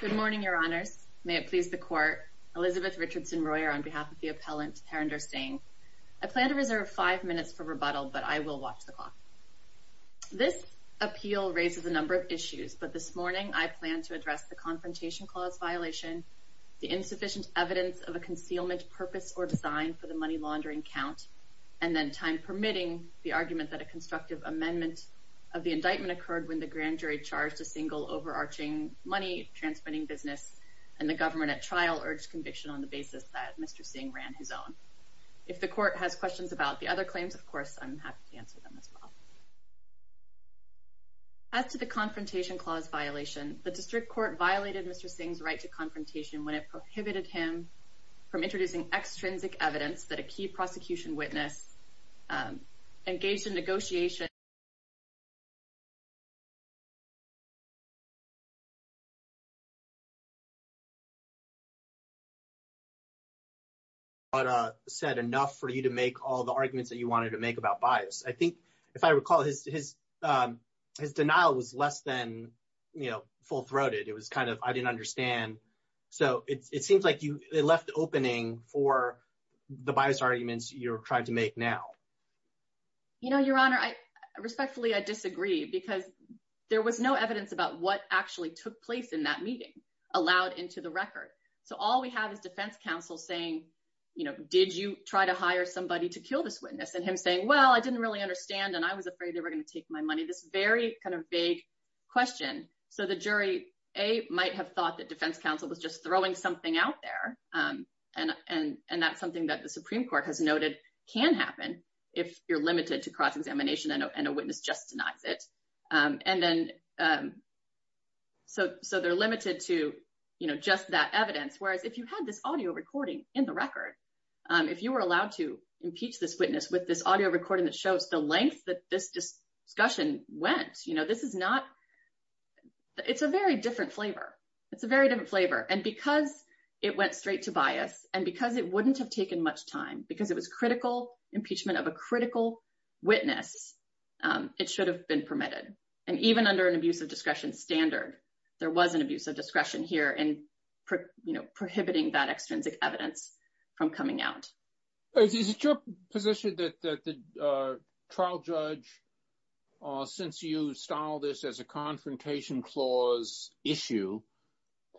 Good morning, Your Honors. May it please the Court. Elizabeth Richardson Royer on behalf of the Appellant Harinder Singh. I plan to reserve five minutes for rebuttal, but I will watch the clock. This appeal raises a number of issues, but this morning I plan to address the Confrontation Clause violation, the insufficient evidence of a concealment purpose or design for the money laundering count, and then, time permitting, the argument that a constructive amendment of the indictment occurred when the grand jury charged a single overarching money-transferring business, and the government at trial urged conviction on the basis that Mr. Singh ran his own. If the Court has questions about the other claims, of course, I'm happy to answer them as well. As to the Confrontation Clause violation, the District Court violated Mr. Singh's right to confrontation when it prohibited him from introducing extrinsic evidence that a key prosecution witness engaged in negotiation with Mr. Singh. Mr. Singh's defense was that Mr. Singh had not said enough for you to make all the arguments that you wanted to make about bias. I think, if I recall, his denial was less than, you know, full-throated. It was kind of, I didn't understand. So it seems like it left the opening for the bias arguments you're trying to make now. You know, Your Honor, respectfully, I disagree, because there was no evidence about what actually took place in that meeting, allowed into the record. So all we have is defense counsel saying, you know, did you try to hire somebody to kill this witness? And him saying, well, I didn't really understand, and I was afraid they were going to take my money. This very kind of vague question. So the jury, A, might have thought that defense counsel was just throwing something out there, and that's something that the Supreme Court has noted can happen if you're limited to cross-examination and a witness just denies it. And then, so they're limited to, you know, just that evidence, whereas if you had this audio recording in the record, if you were allowed to impeach this witness with this audio recording that shows the length that this discussion went, you know, this is not, it's a very different flavor. It's a very different flavor. And because it went straight to bias and because it wouldn't have taken much time, because it was critical impeachment of a critical witness, it should have been permitted. And even under an abuse of discretion standard, there was an abuse of discretion here in prohibiting that extrinsic evidence from coming out. Is it your position that the trial judge, since you styled this as a confrontation clause issue,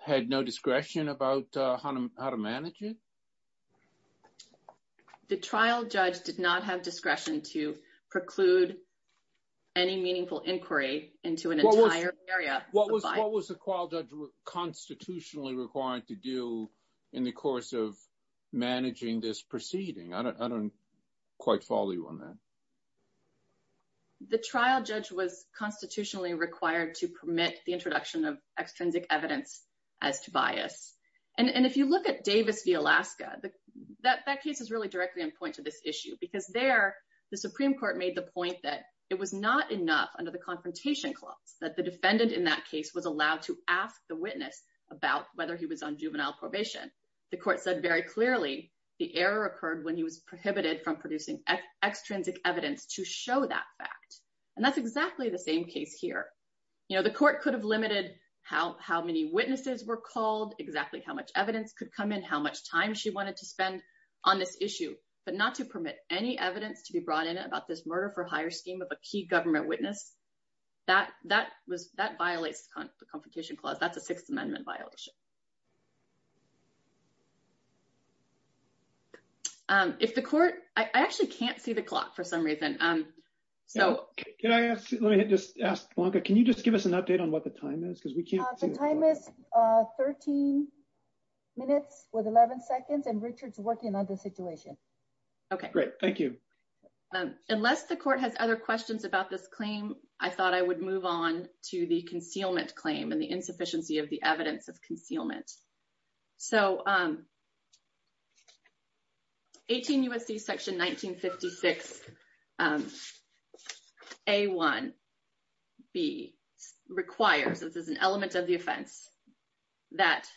had no discretion about how to manage it? The trial judge did not have discretion to preclude any meaningful inquiry into an entire area. What was the trial judge constitutionally required to do in the course of managing this proceeding? I don't quite follow you on that. The trial judge was constitutionally required to permit the introduction of extrinsic evidence as to bias. And if you look at Davis v. Alaska, that case is really directly in point to this issue, because there the Supreme Court made the point that it was not enough under the confrontation clause that the defendant in that case was allowed to ask the witness about whether he was on juvenile probation. The court said very clearly the error occurred when he was prohibited from producing extrinsic evidence to show that fact. And that's exactly the same case here. You know, the court could have limited how many witnesses were called, exactly how much evidence could come in, how much time she wanted to spend on this issue, but not to permit any evidence to be brought in about this murder-for-hire scheme of a key government witness. That violates the confrontation clause. That's a Sixth Amendment violation. If the court – I actually can't see the clock for some reason. Let me just ask, Blanca, can you just give us an update on what the time is? The time is 13 minutes with 11 seconds, and Richard's working on the situation. Okay, great. Thank you. Unless the court has other questions about this claim, I thought I would move on to the concealment claim and the insufficiency of the evidence of concealment. So, 18 U.S.C. section 1956, A1B, requires – this is an element of the offense – that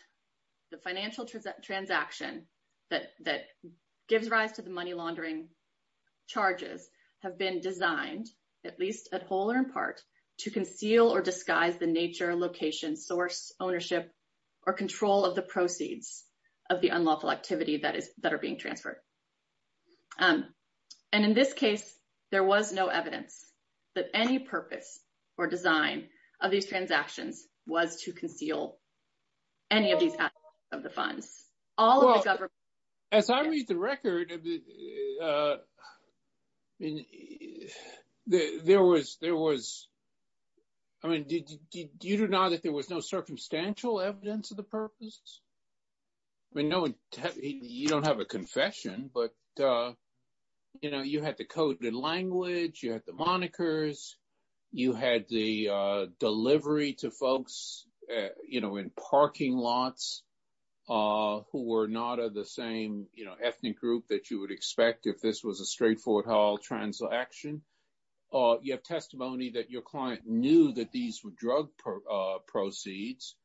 the financial transaction that gives rise to the money laundering charges have been designed, at least at whole or in part, to conceal or disguise the nature, location, source, ownership, or control of the proceeds of the unlawful activity that are being transferred. And in this case, there was no evidence that any purpose or design of these transactions was to conceal any of these assets of the funds. As I read the record, there was – I mean, do you deny that there was no circumstantial evidence of the purpose? I mean, you don't have a confession, but, you know, you had the coded language. You had the monikers. You had the delivery to folks, you know, in parking lots who were not of the same, you know, ethnic group that you would expect if this was a straightforward trial transaction. You have testimony that your client knew that these were drug proceeds.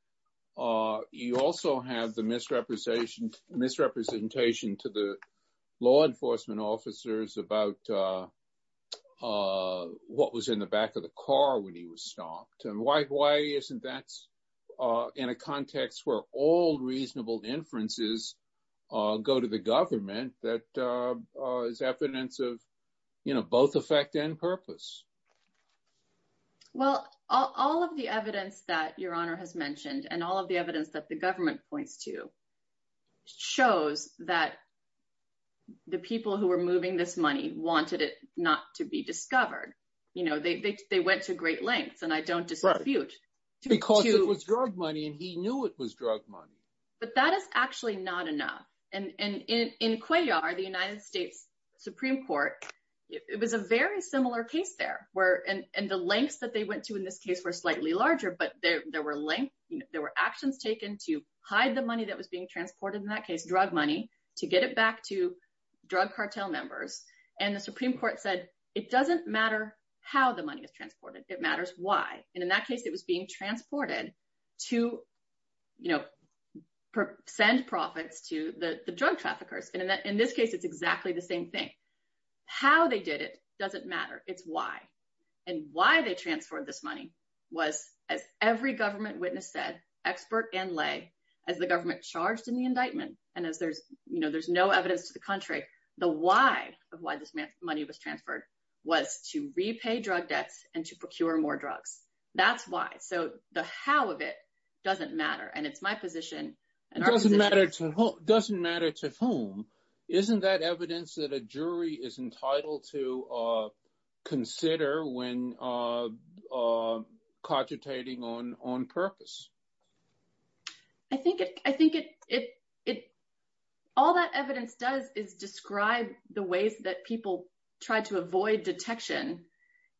You also have the misrepresentation to the law enforcement officers about what was in the back of the car when he was stopped. Why isn't that in a context where all reasonable inferences go to the government that is evidence of, you know, both effect and purpose? Well, all of the evidence that Your Honor has mentioned and all of the evidence that the government points to shows that the people who were moving this money wanted it not to be discovered. You know, they went to great lengths, and I don't dispute. Because it was drug money, and he knew it was drug money. But that is actually not enough. And in Cuellar, the United States Supreme Court, it was a very similar case there. And the lengths that they went to in this case were slightly larger, but there were actions taken to hide the money that was being transported in that case, drug money, to get it back to drug cartel members. And the Supreme Court said, it doesn't matter how the money is transported. It matters why. And in that case, it was being transported to, you know, send profits to the drug traffickers. And in this case, it's exactly the same thing. How they did it doesn't matter. It's why. And why they transferred this money was, as every government witness said, expert and lay, as the government charged in the indictment. And as there's, you know, there's no evidence to the contrary. The why of why this money was transferred was to repay drug debts and to procure more drugs. That's why. So the how of it doesn't matter. And it's my position. It doesn't matter to whom. Isn't that evidence that a jury is entitled to consider when cogitating on purpose? I think it I think it it it. All that evidence does is describe the ways that people try to avoid detection.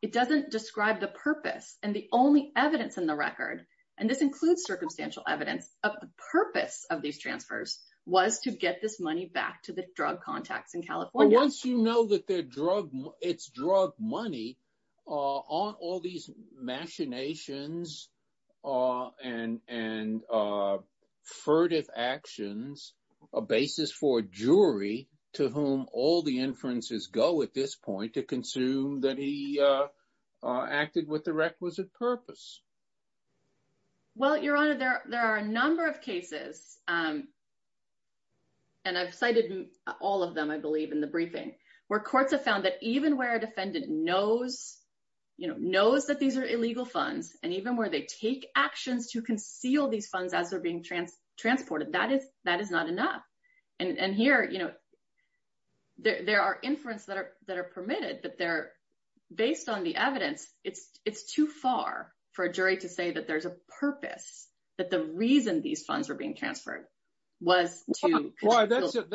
It doesn't describe the purpose and the only evidence in the record. And this includes circumstantial evidence of the purpose of these transfers was to get this money back to the drug contacts in California. Once you know that their drug, it's drug money on all these machinations and and furtive actions, a basis for a jury to whom all the inferences go at this point to consume that he acted with the requisite purpose. Well, your honor, there are a number of cases. And I've cited all of them, I believe, in the briefing where courts have found that even where a defendant knows, you know, knows that these are illegal funds and even where they take actions to conceal these funds as they're being transported, that is that is not enough. And here, you know, there are inference that are that are permitted, but they're based on the evidence. It's it's too far for a jury to say that there's a purpose, that the reason these funds are being transferred was to. Well, that's it.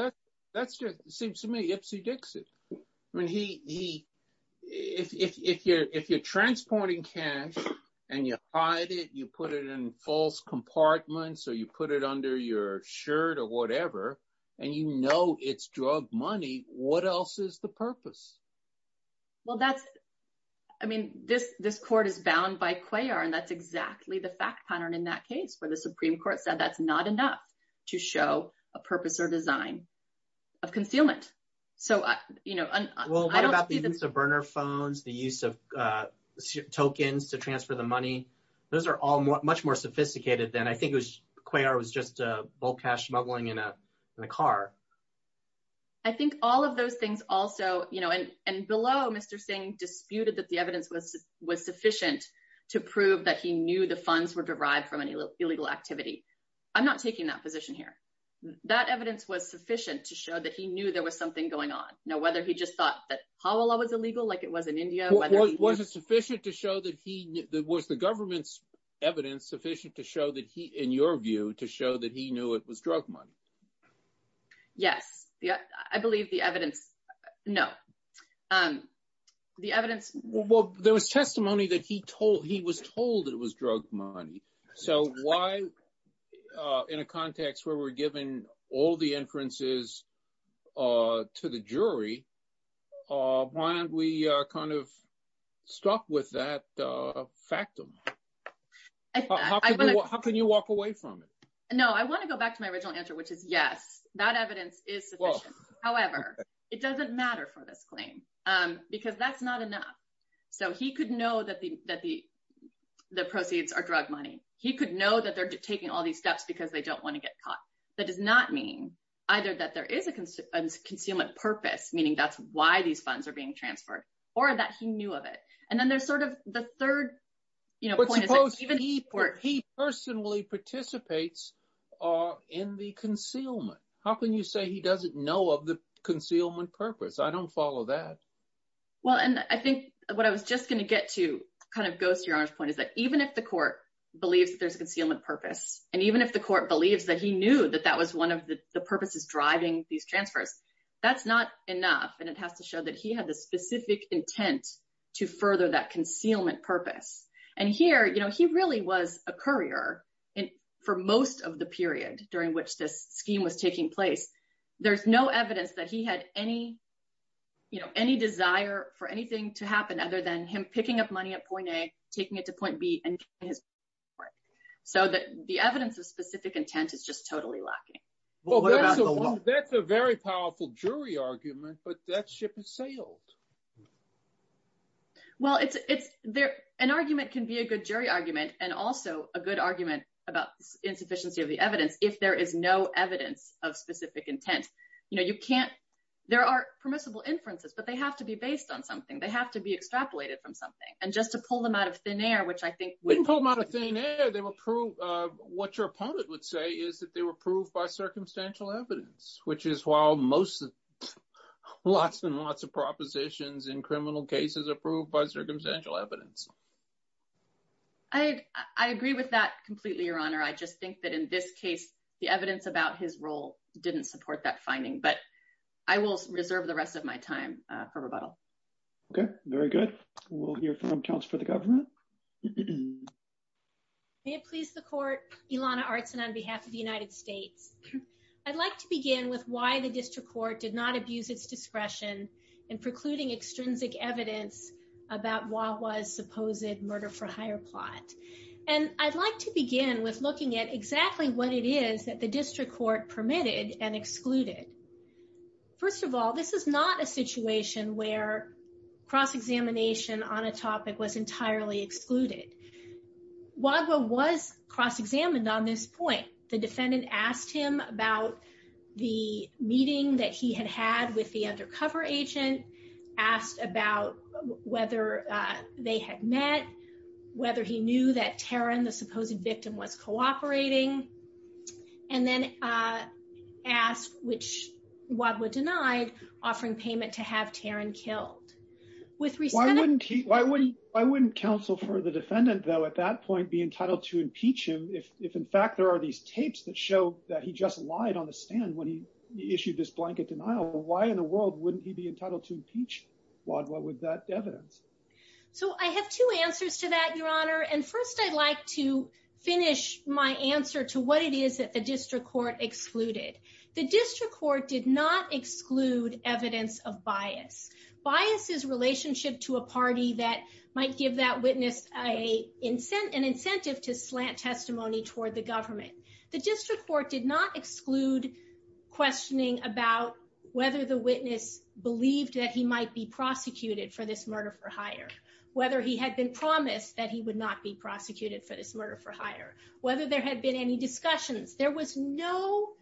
That's just seems to me. I mean, he if you're if you're transporting cash and you hide it, you put it in false compartments or you put it under your shirt or whatever and, you know, it's drug money. What else is the purpose? Well, that's I mean, this this court is bound by Cuellar, and that's exactly the fact pattern in that case where the Supreme Court said that's not enough to show a purpose or design of concealment. So, you know, well, I don't see the burner phones, the use of tokens to transfer the money. Those are all much more sophisticated than I think it was. Cash smuggling in a car. I think all of those things also, you know, and below Mr. Singh disputed that the evidence was was sufficient to prove that he knew the funds were derived from an illegal activity. I'm not taking that position here. That evidence was sufficient to show that he knew there was something going on. Now, whether he just thought that how Allah was illegal, like it was in India. Was it sufficient to show that he was the government's evidence sufficient to show that he, in your view, to show that he knew it was drug money? Yes. Yeah, I believe the evidence. No, the evidence. Well, there was testimony that he told he was told it was drug money. So why in a context where we're given all the inferences to the jury? Why don't we kind of stop with that factum? How can you walk away from it? No, I want to go back to my original answer, which is, yes, that evidence is. However, it doesn't matter for this claim because that's not enough. So he could know that the that the the proceeds are drug money. He could know that they're taking all these steps because they don't want to get caught. That does not mean either that there is a concealment purpose, meaning that's why these funds are being transferred or that he knew of it. And then there's sort of the third, you know, even he personally participates in the concealment. How can you say he doesn't know of the concealment purpose? I don't follow that. Well, and I think what I was just going to get to kind of goes to your point is that even if the court believes that there's a concealment purpose and even if the court believes that he knew that that was one of the purposes driving these transfers, that's not enough. And it has to show that he had the specific intent to further that concealment purpose. And here, you know, he really was a courier for most of the period during which this scheme was taking place. There's no evidence that he had any, you know, any desire for anything to happen other than him picking up money at point A, taking it to point B and his work so that the evidence of specific intent is just totally lacking. Well, that's a very powerful jury argument, but that ship has sailed. Well, it's there. An argument can be a good jury argument and also a good argument about insufficiency of the evidence if there is no evidence of specific intent. You know, you can't there are permissible inferences, but they have to be based on something. They have to be extrapolated from something. And just to pull them out of thin air, which I think would pull them out of thin air. They will prove what your opponent would say is that they were proved by circumstantial evidence, which is while most lots and lots of propositions in criminal cases approved by circumstantial evidence. I agree with that completely, Your Honor. I just think that in this case, the evidence about his role didn't support that finding, but I will reserve the rest of my time for rebuttal. Okay, very good. We'll hear from counsel for the government. May it please the court. Ilana Artson on behalf of the United States. I'd like to begin with why the district court did not abuse its discretion in precluding extrinsic evidence about what was supposed murder for hire plot. And I'd like to begin with looking at exactly what it is that the district court permitted and excluded. First of all, this is not a situation where cross-examination on a topic was entirely excluded. Wadhwa was cross-examined on this point. The defendant asked him about the meeting that he had had with the undercover agent, asked about whether they had met, whether he knew that Taryn, the supposed victim, was cooperating. And then asked, which Wadhwa denied, offering payment to have Taryn killed. Why wouldn't counsel for the defendant, though, at that point be entitled to impeach him if in fact there are these tapes that show that he just lied on the stand when he issued this blanket denial? Why in the world wouldn't he be entitled to impeach Wadhwa with that evidence? So I have two answers to that, Your Honor, and first I'd like to finish my answer to what it is that the district court excluded. The district court did not exclude evidence of bias. Bias is relationship to a party that might give that witness an incentive to slant testimony toward the government. The district court did not exclude questioning about whether the witness believed that he might be prosecuted for this murder for hire, whether he had been promised that he would not be prosecuted for this murder for hire, whether there had been any discussions. There was no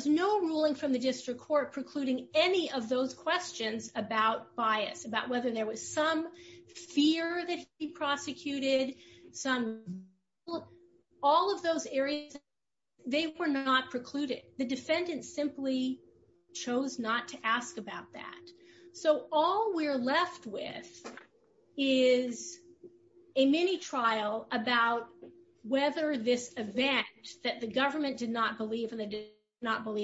ruling from the district court precluding any of those questions about bias, about whether there was some fear that he prosecuted, all of those areas, they were not precluded. The defendant simply chose not to ask about that. So all we're left with is a mini trial about whether this event that the government did not believe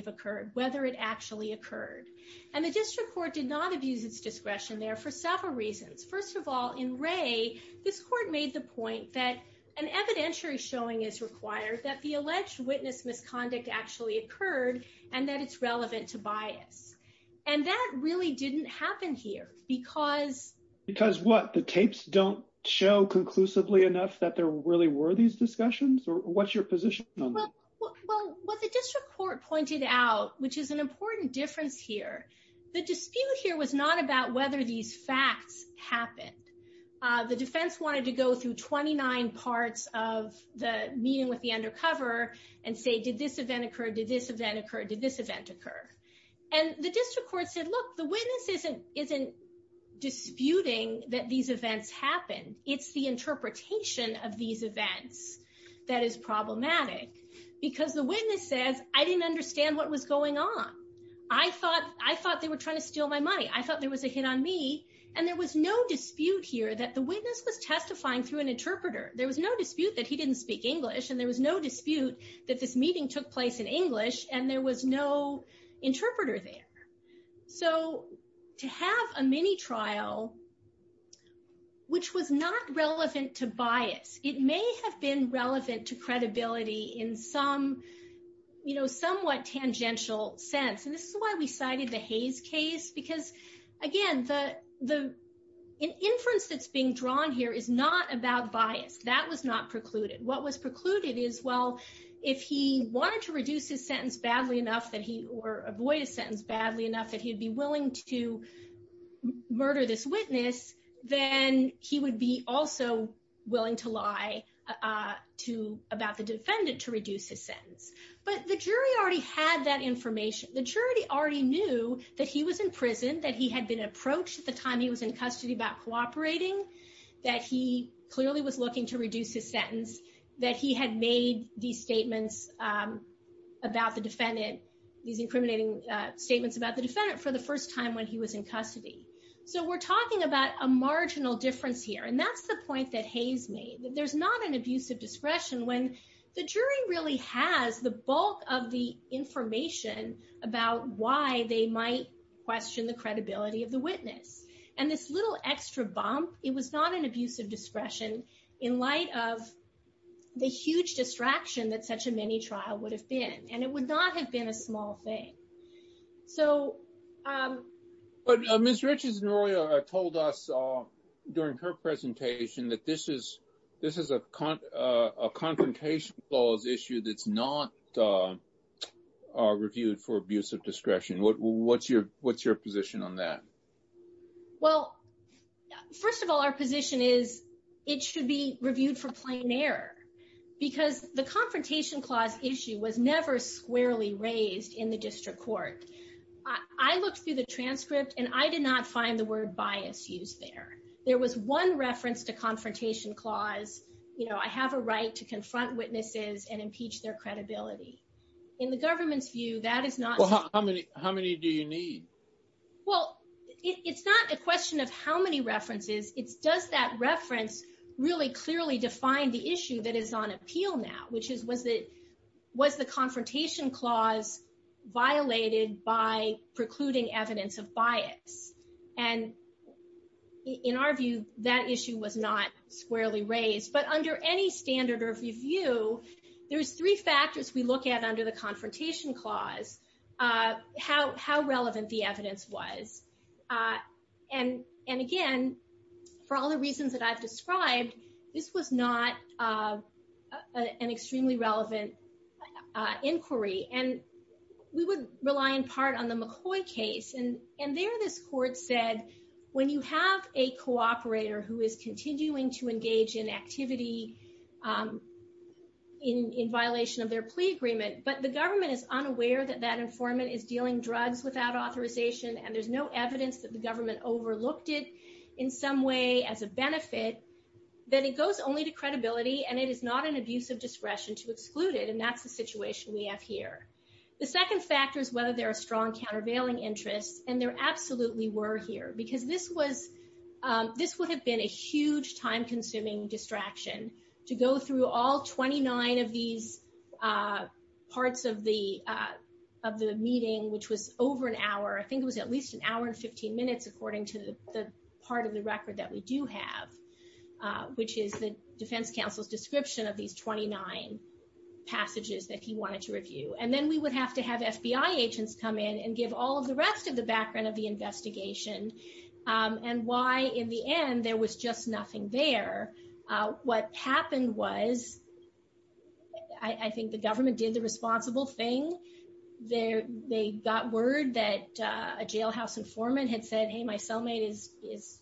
occurred, whether it actually occurred. And the district court did not abuse its discretion there for several reasons. First of all, in Ray, this court made the point that an evidentiary showing is required that the alleged witness misconduct actually occurred and that it's relevant to bias. And that really didn't happen here because... Because what, the tapes don't show conclusively enough that there really were these discussions or what's your position on that? Well, what the district court pointed out, which is an important difference here, the dispute here was not about whether these facts happened. The defense wanted to go through 29 parts of the meeting with the undercover and say, did this event occur? Did this event occur? Did this event occur? And the district court said, look, the witness isn't disputing that these events happened. It's the interpretation of these events that is problematic because the witness says, I didn't understand what was going on. I thought they were trying to steal my money. I thought there was a hit on me. And there was no dispute here that the witness was testifying through an interpreter. There was no dispute that he didn't speak English and there was no dispute that this meeting took place in English and there was no interpreter there. So to have a mini trial, which was not relevant to bias, it may have been relevant to credibility in some somewhat tangential sense. And this is why we cited the Hayes case because, again, the inference that's being drawn here is not about bias. That was not precluded. What was precluded is, well, if he wanted to reduce his sentence badly enough or avoid a sentence badly enough that he'd be willing to murder this witness, then he would be also willing to lie about the defendant to reduce his sentence. But the jury already had that information. The jury already knew that he was in prison, that he had been approached at the time he was in custody about cooperating, that he clearly was looking to reduce his sentence, that he had made these statements about the defendant, these incriminating statements about the defendant for the first time when he was in custody. So we're talking about a marginal difference here. And that's the point that Hayes made. There's not an abuse of discretion when the jury really has the bulk of the information about why they might question the credibility of the witness. And this little extra bump, it was not an abuse of discretion in light of the huge distraction that such a mini trial would have been. And it would not have been a small thing. So. But Ms. Richardson told us during her presentation that this is this is a confrontation issue that's not reviewed for abuse of discretion. What's your what's your position on that? Well, first of all, our position is it should be reviewed for plain error because the confrontation clause issue was never squarely raised in the district court. I looked through the transcript and I did not find the word bias used there. There was one reference to confrontation clause. You know, I have a right to confront witnesses and impeach their credibility in the government's view. That is not how many how many do you need? Well, it's not a question of how many references it's does that reference really clearly define the issue that is on appeal now, which is was it was the confrontation clause violated by precluding evidence of bias. And in our view, that issue was not squarely raised. But under any standard of review, there's three factors we look at under the confrontation clause, how how relevant the evidence was. And and again, for all the reasons that I've described, this was not an extremely relevant inquiry. And we would rely in part on the McCoy case. And and there this court said, when you have a cooperator who is continuing to engage in activity in violation of their plea agreement, but the government is unaware that that informant is dealing drugs without authorization. And there's no evidence that the government overlooked it in some way as a benefit, that it goes only to credibility and it is not an abuse of discretion to exclude it. And that's the situation we have here. The second factor is whether there are strong countervailing interests. And there absolutely were here because this was this would have been a huge time consuming distraction to go through all 29 of these parts of the of the meeting, which was over an hour. I think it was at least an hour and 15 minutes, according to the part of the record that we do have, which is the defense counsel's description of these 29 passages that he wanted to review. And then we would have to have FBI agents come in and give all of the rest of the background of the investigation and why in the end there was just nothing there. What happened was I think the government did the responsible thing there. They got word that a jailhouse informant had said, hey, my cellmate is is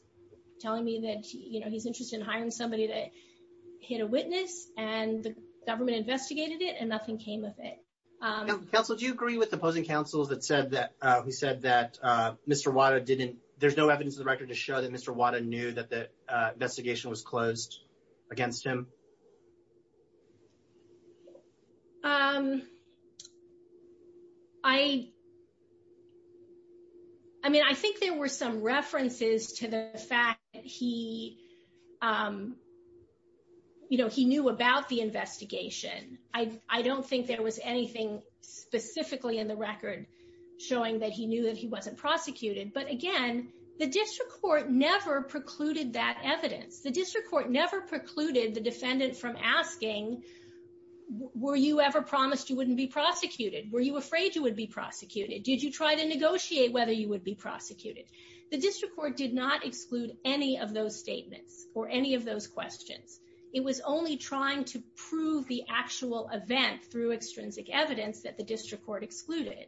telling me that he's interested in hiring somebody that hit a witness and the government investigated it and nothing came with it. Counsel, do you agree with the opposing counsels that said that he said that Mr. Water didn't there's no evidence of the record to show that Mr. Water knew that the investigation was closed against him. I mean, I think there were some references to the fact that he. You know, he knew about the investigation. I don't think there was anything specifically in the record, showing that he knew that he wasn't prosecuted. But again, the district court never precluded that evidence. The district court never precluded the defendant from asking, were you ever promised you wouldn't be prosecuted? Were you afraid you would be prosecuted? Did you try to negotiate whether you would be prosecuted? The district court did not exclude any of those statements or any of those questions. It was only trying to prove the actual event through extrinsic evidence that the district court excluded.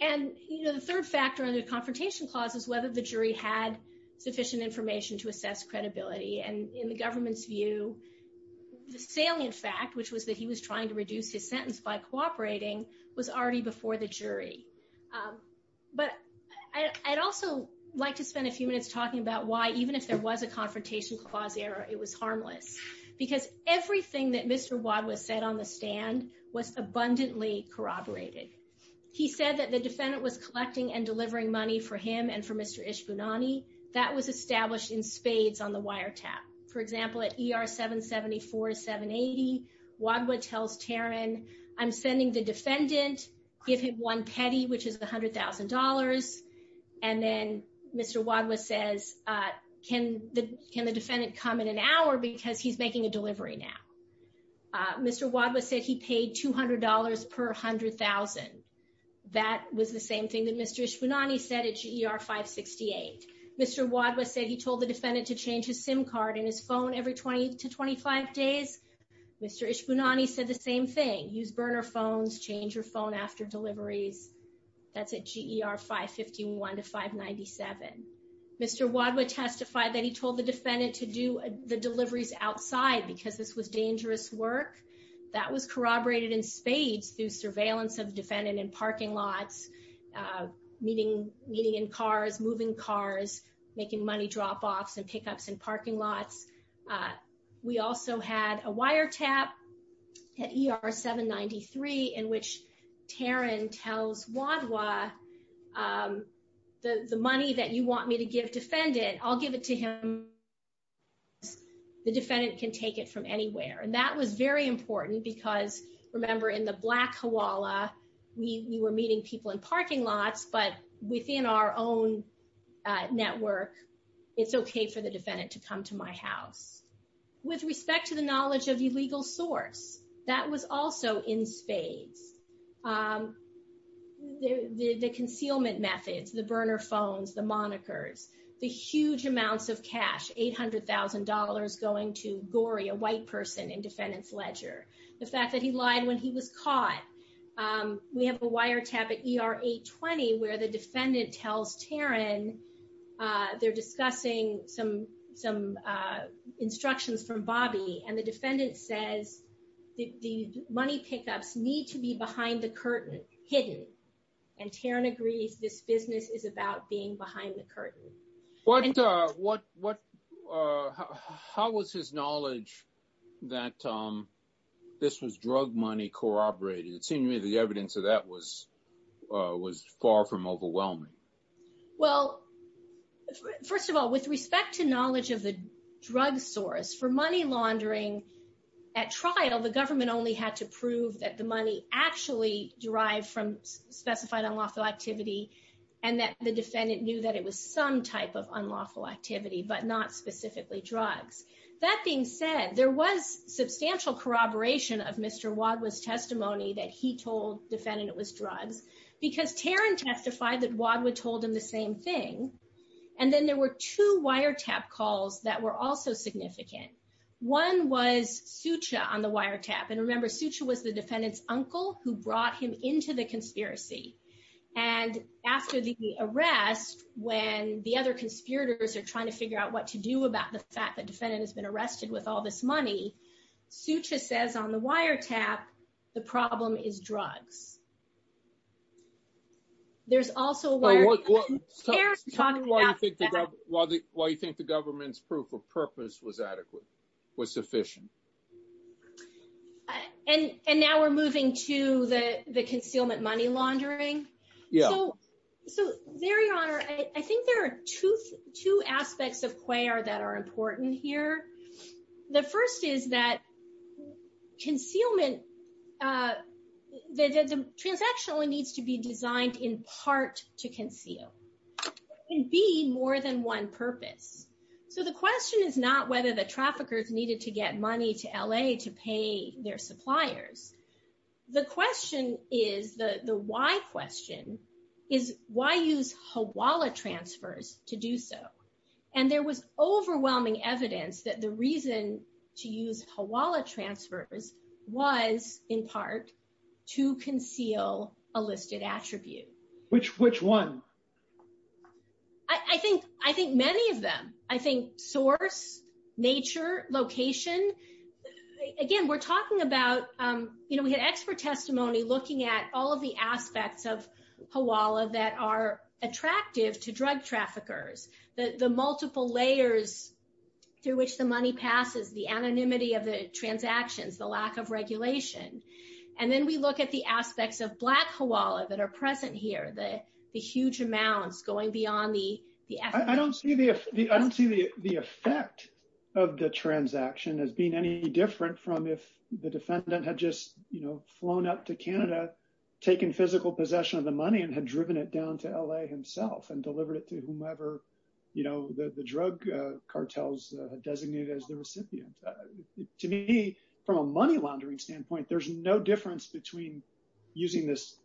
And, you know, the third factor under the confrontation clause is whether the jury had sufficient information to assess credibility. And in the government's view, the salient fact, which was that he was trying to reduce his sentence by cooperating, was already before the jury. But I'd also like to spend a few minutes talking about why, even if there was a confrontation clause error, it was harmless. Because everything that Mr. Wadhwa said on the stand was abundantly corroborated. He said that the defendant was collecting and delivering money for him and for Mr. Ishbunani. That was established in spades on the wiretap. For example, at ER 774-780, Wadhwa tells Taran, I'm sending the defendant, give him one petty, which is $100,000. And then Mr. Wadhwa says, can the defendant come in an hour because he's making a delivery now? Mr. Wadhwa said he paid $200 per $100,000. That was the same thing that Mr. Ishbunani said at GER 568. Mr. Wadhwa said he told the defendant to change his SIM card in his phone every 20 to 25 days. Mr. Ishbunani said the same thing, use burner phones, change your phone after deliveries. That's at GER 551 to 597. Mr. Wadhwa testified that he told the defendant to do the deliveries outside because this was dangerous work. That was corroborated in spades through surveillance of the defendant in parking lots, meeting in cars, moving cars, making money drop-offs and pickups in parking lots. We also had a wiretap at ER 793 in which Taran tells Wadhwa, the money that you want me to give defendant, I'll give it to him. The defendant can take it from anywhere. And that was very important because, remember, in the black koala, we were meeting people in parking lots, but within our own network, it's okay for the defendant to come to my house. With respect to the knowledge of illegal source, that was also in spades. The concealment methods, the burner phones, the monikers, the huge amounts of cash, $800,000 going to Gory, a white person in defendant's ledger. The fact that he lied when he was caught. We have a wiretap at ER 820 where the defendant tells Taran they're discussing some instructions from Bobby, and the defendant says the money pickups need to be behind the curtain, hidden. And Taran agrees this business is about being behind the curtain. How was his knowledge that this was drug money corroborated? It seemed to me the evidence of that was far from overwhelming. Well, first of all, with respect to knowledge of the drug source, for money laundering at trial, the government only had to prove that the money actually derived from specified unlawful activity and that the defendant knew that it was some type of unlawful activity, but not specifically drugs. That being said, there was substantial corroboration of Mr. Wadhwa's testimony that he told the defendant it was drugs, because Taran testified that Wadhwa told him the same thing. And then there were two wiretap calls that were also significant. One was Sucha on the wiretap. And remember, Sucha was the defendant's uncle who brought him into the conspiracy. And after the arrest, when the other conspirators are trying to figure out what to do about the fact that the defendant has been arrested with all this money, Sucha says on the wiretap, the problem is drugs. There's also... Well, why do you think the government's proof of purpose was adequate, was sufficient? And now we're moving to the concealment money laundering. Yeah. So, there you are. I think there are two aspects of QUAIR that are important here. The first is that concealment... The transaction only needs to be designed in part to conceal. It can be more than one purpose. So, the question is not whether the traffickers needed to get money to L.A. to pay their suppliers. The question is, the why question, is why use Hawala transfers to do so? And there was overwhelming evidence that the reason to use Hawala transfers was, in part, to conceal a listed attribute. Which one? I think many of them. I think source, nature, location. Again, we're talking about, you know, we had expert testimony looking at all of the aspects of Hawala that are attractive to drug traffickers. The multiple layers through which the money passes, the anonymity of the transactions, the lack of regulation. And then we look at the aspects of black Hawala that are present here. The huge amounts going beyond the... I don't see the effect of the transaction as being any different from if the defendant had just, you know, flown up to Canada, taken physical possession of the money and had driven it down to L.A. himself and delivered it to whomever, you know, the drug cartels designated as the recipient. To me, from a money laundering standpoint, there's no difference between using this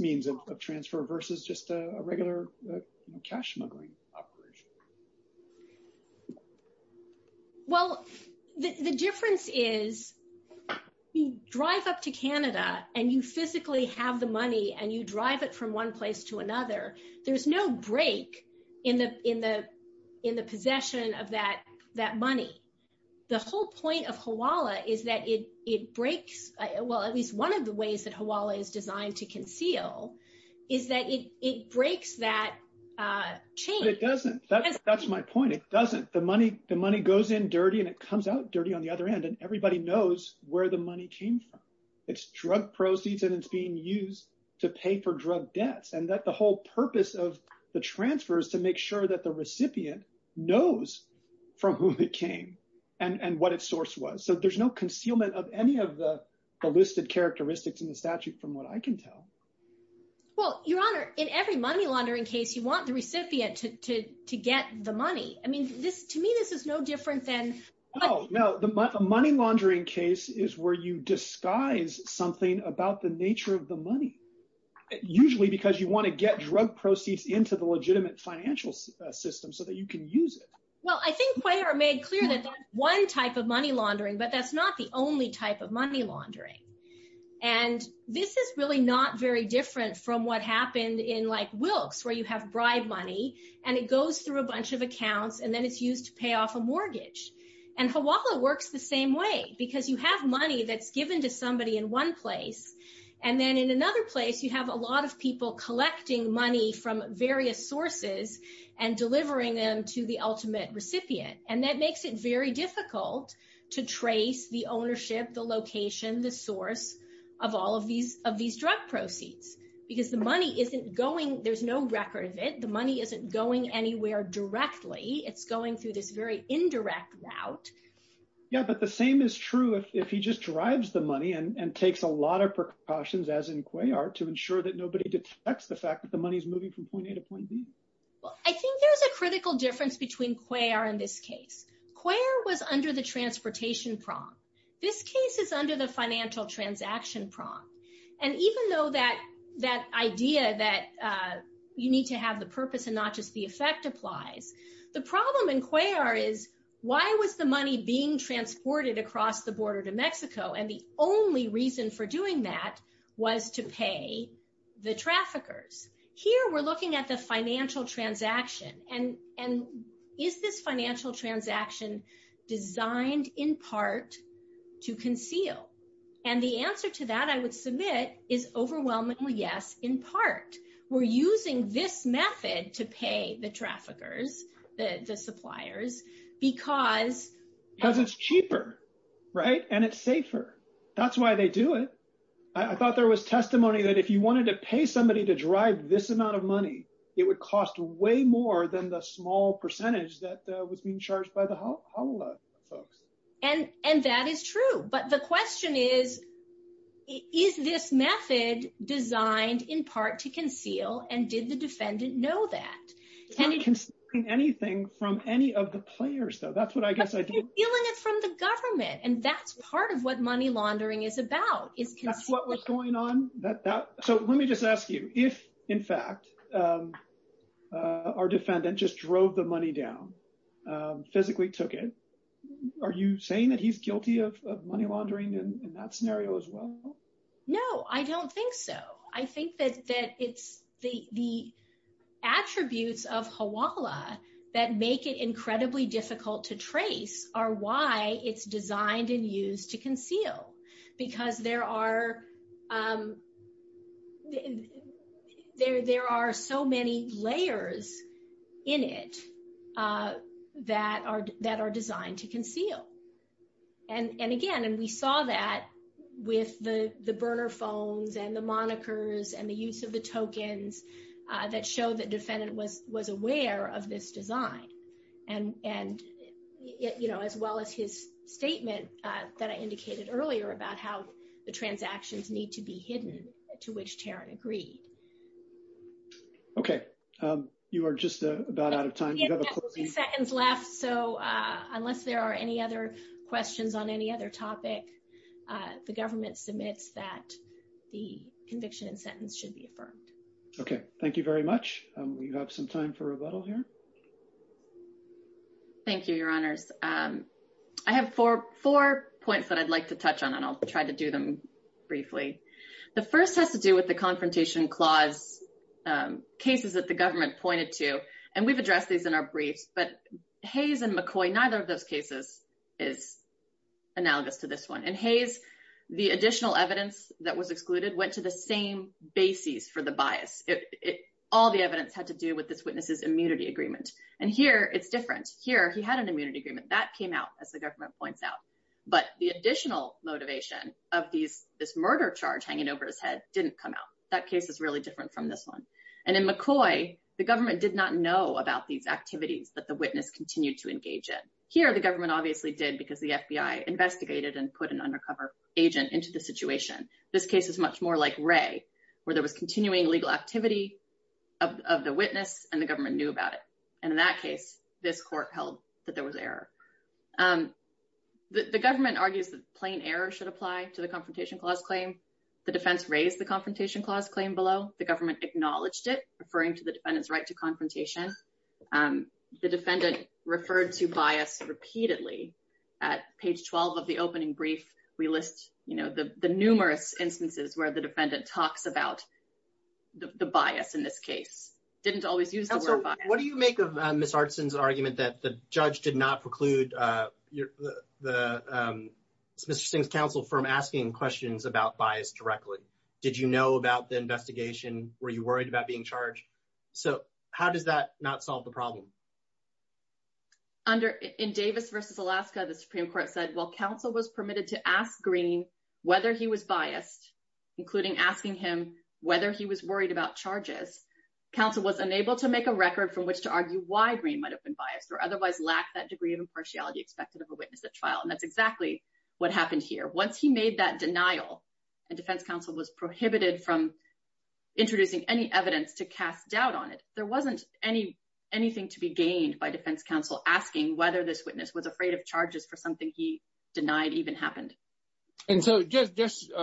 means of transfer versus just a regular cash smuggling operation. Well, the difference is you drive up to Canada and you physically have the money and you drive it from one place to another. There's no break in the possession of that money. The whole point of Hawala is that it breaks... Well, at least one of the ways that Hawala is designed to conceal is that it breaks that chain. But it doesn't. That's my point. It doesn't. The money goes in dirty and it comes out dirty on the other end and everybody knows where the money came from. It's drug proceeds and it's being used to pay for drug debts. And that the whole purpose of the transfer is to make sure that the recipient knows from whom it came and what its source was. So there's no concealment of any of the listed characteristics in the statute from what I can tell. Well, Your Honor, in every money laundering case, you want the recipient to get the money. I mean, to me, this is no different than... No, no. The money laundering case is where you disguise something about the nature of the money. Usually because you want to get drug proceeds into the legitimate financial system so that you can use it. Well, I think Cuellar made clear that that's one type of money laundering, but that's not the only type of money laundering. And this is really not very different from what happened in like Wilkes where you have bribe money and it goes through a bunch of accounts and then it's used to pay off a mortgage. And Hawala works the same way because you have money that's given to somebody in one place. And then in another place, you have a lot of people collecting money from various sources and delivering them to the ultimate recipient. And that makes it very difficult to trace the ownership, the location, the source of all of these drug proceeds. Because the money isn't going... There's no record of it. The money isn't going anywhere directly. It's going through this very indirect route. Yeah, but the same is true if he just drives the money and takes a lot of precautions, as in Cuellar, to ensure that nobody detects the fact that the money is moving from point A to point B. Well, I think there's a critical difference between Cuellar and this case. Cuellar was under the transportation prong. This case is under the financial transaction prong. And even though that idea that you need to have the purpose and not just the effect applies, the problem in Cuellar is why was the money being transported across the border to Mexico? And the only reason for doing that was to pay the traffickers. Here, we're looking at the financial transaction. And is this financial transaction designed in part to conceal? And the answer to that, I would submit, is overwhelmingly yes, in part. We're using this method to pay the traffickers, the suppliers, because... Because it's cheaper, right? And it's safer. That's why they do it. I thought there was testimony that if you wanted to pay somebody to drive this amount of money, it would cost way more than the small percentage that was being charged by the HALA folks. And that is true. But the question is, is this method designed in part to conceal? And did the defendant know that? It's not concealing anything from any of the players, though. That's what I guess I did. But you're stealing it from the government. And that's part of what money laundering is about. That's what was going on? So let me just ask you, if, in fact, our defendant just drove the money down, physically took it, are you saying that he's guilty of money laundering in that scenario as well? No, I don't think so. I think that it's the attributes of HALA that make it incredibly difficult to trace are why it's designed and used to conceal. Because there are so many layers in it that are designed to conceal. And again, and we saw that with the burner phones and the monikers and the use of the tokens that show that defendant was aware of this design. And, you know, as well as his statement that I indicated earlier about how the transactions need to be hidden, to which Taryn agreed. Okay. You are just about out of time. We have a few seconds left, so unless there are any other questions on any other topic, the government submits that the conviction and sentence should be affirmed. Okay. Thank you very much. We have some time for rebuttal here. Thank you, Your Honors. I have four points that I'd like to touch on, and I'll try to do them briefly. The first has to do with the Confrontation Clause cases that the government pointed to, and we've addressed these in our briefs. But Hayes and McCoy, neither of those cases is analogous to this one. In Hayes, the additional evidence that was excluded went to the same bases for the bias. All the evidence had to do with this witness's immunity agreement. And here, it's different. Here, he had an immunity agreement. That came out, as the government points out. But the additional motivation of this murder charge hanging over his head didn't come out. That case is really different from this one. And in McCoy, the government did not know about these activities that the witness continued to engage in. Here, the government obviously did because the FBI investigated and put an undercover agent into the situation. This case is much more like Ray, where there was continuing legal activity of the witness, and the government knew about it. And in that case, this court held that there was error. The government argues that plain error should apply to the Confrontation Clause claim. The defense raised the Confrontation Clause claim below. The government acknowledged it, referring to the defendant's right to confrontation. The defendant referred to bias repeatedly. At page 12 of the opening brief, we list the numerous instances where the defendant talks about the bias in this case. Didn't always use the word bias. What do you make of Ms. Artson's argument that the judge did not preclude Mr. Singh's counsel from asking questions about bias directly? Did you know about the investigation? Were you worried about being charged? So how does that not solve the problem? In Davis v. Alaska, the Supreme Court said, While counsel was permitted to ask Green whether he was biased, including asking him whether he was worried about charges, counsel was unable to make a record from which to argue why Green might have been biased, or otherwise lack that degree of impartiality expected of a witness at trial. And that's exactly what happened here. Once he made that denial, and defense counsel was prohibited from introducing any evidence to cast doubt on it, there wasn't anything to be gained by defense counsel asking whether this witness was afraid of charges for something he denied even happened. And so just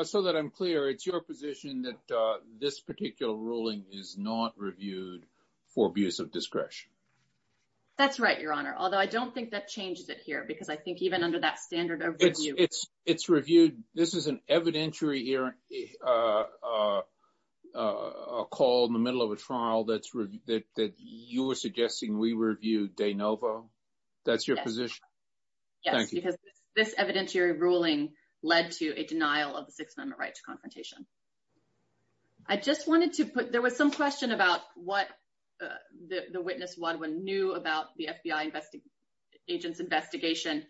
so that I'm clear, it's your position that this particular ruling is not reviewed for abuse of discretion? That's right, Your Honor. Although I don't think that changes it here, because I think even under that standard of review... It's reviewed. This is an evidentiary call in the middle of a trial that you were suggesting we review de novo. That's your position? Yes. Because this evidentiary ruling led to a denial of the Sixth Amendment right to confrontation. I just wanted to put... There was some question about what the witness knew about the FBI agent's investigation.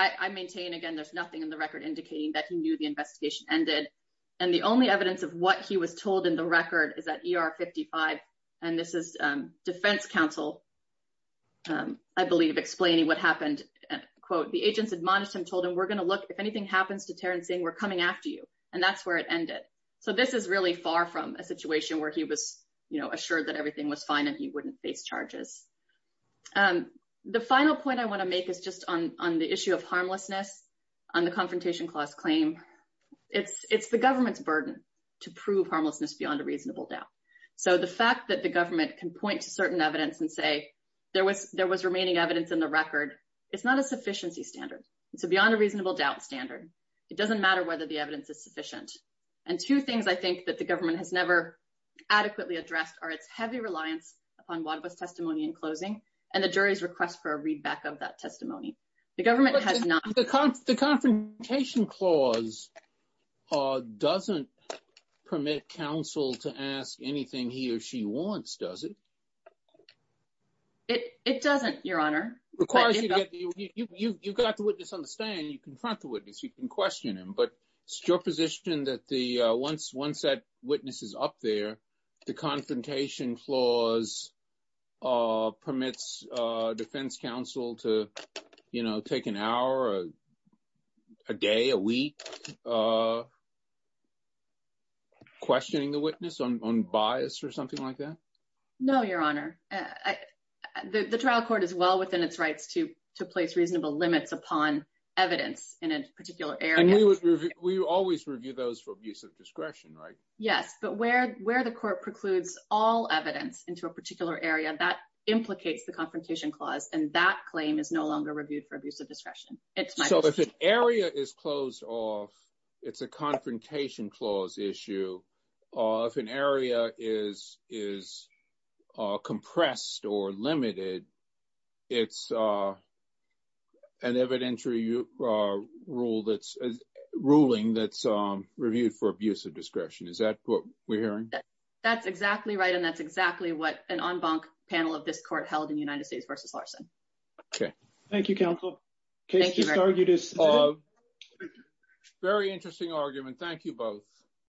I maintain, again, there's nothing in the record indicating that he knew the investigation ended. And the only evidence of what he was told in the record is at ER 55. And this is defense counsel, I believe, explaining what happened. Quote, the agents admonished him, told him, we're going to look if anything happens to Terrence saying we're coming after you. And that's where it ended. So this is really far from a situation where he was assured that everything was fine and he wouldn't face charges. The final point I want to make is just on the issue of harmlessness on the Confrontation Clause claim. It's the government's burden to prove harmlessness beyond a reasonable doubt. So the fact that the government can point to certain evidence and say there was remaining evidence in the record, it's not a sufficiency standard. It's beyond a reasonable doubt standard. It doesn't matter whether the evidence is sufficient. And two things I think that the government has never adequately addressed are its heavy reliance on Wadhwa's testimony in closing and the jury's request for a readback of that testimony. The government has not. The Confrontation Clause doesn't permit counsel to ask anything he or she wants, does it? It doesn't, Your Honor. You've got the witness on the stand. You confront the witness. You can question him. But it's your position that once that witness is up there, the Confrontation Clause permits defense counsel to take an hour, a day, a week, questioning the witness on bias or something like that? No, Your Honor. The trial court is well within its rights to place reasonable limits upon evidence in a particular area. And we always review those for abuse of discretion, right? Yes. But where the court precludes all evidence into a particular area, that implicates the Confrontation Clause. And that claim is no longer reviewed for abuse of discretion. So if an area is closed off, it's a Confrontation Clause issue. If an area is compressed or limited, it's an evidentiary ruling that's reviewed for abuse of discretion. Is that what we're hearing? That's exactly right, and that's exactly what an en banc panel of this court held in United States v. Larson. Okay. Thank you, counsel. Very interesting argument. Thank you both.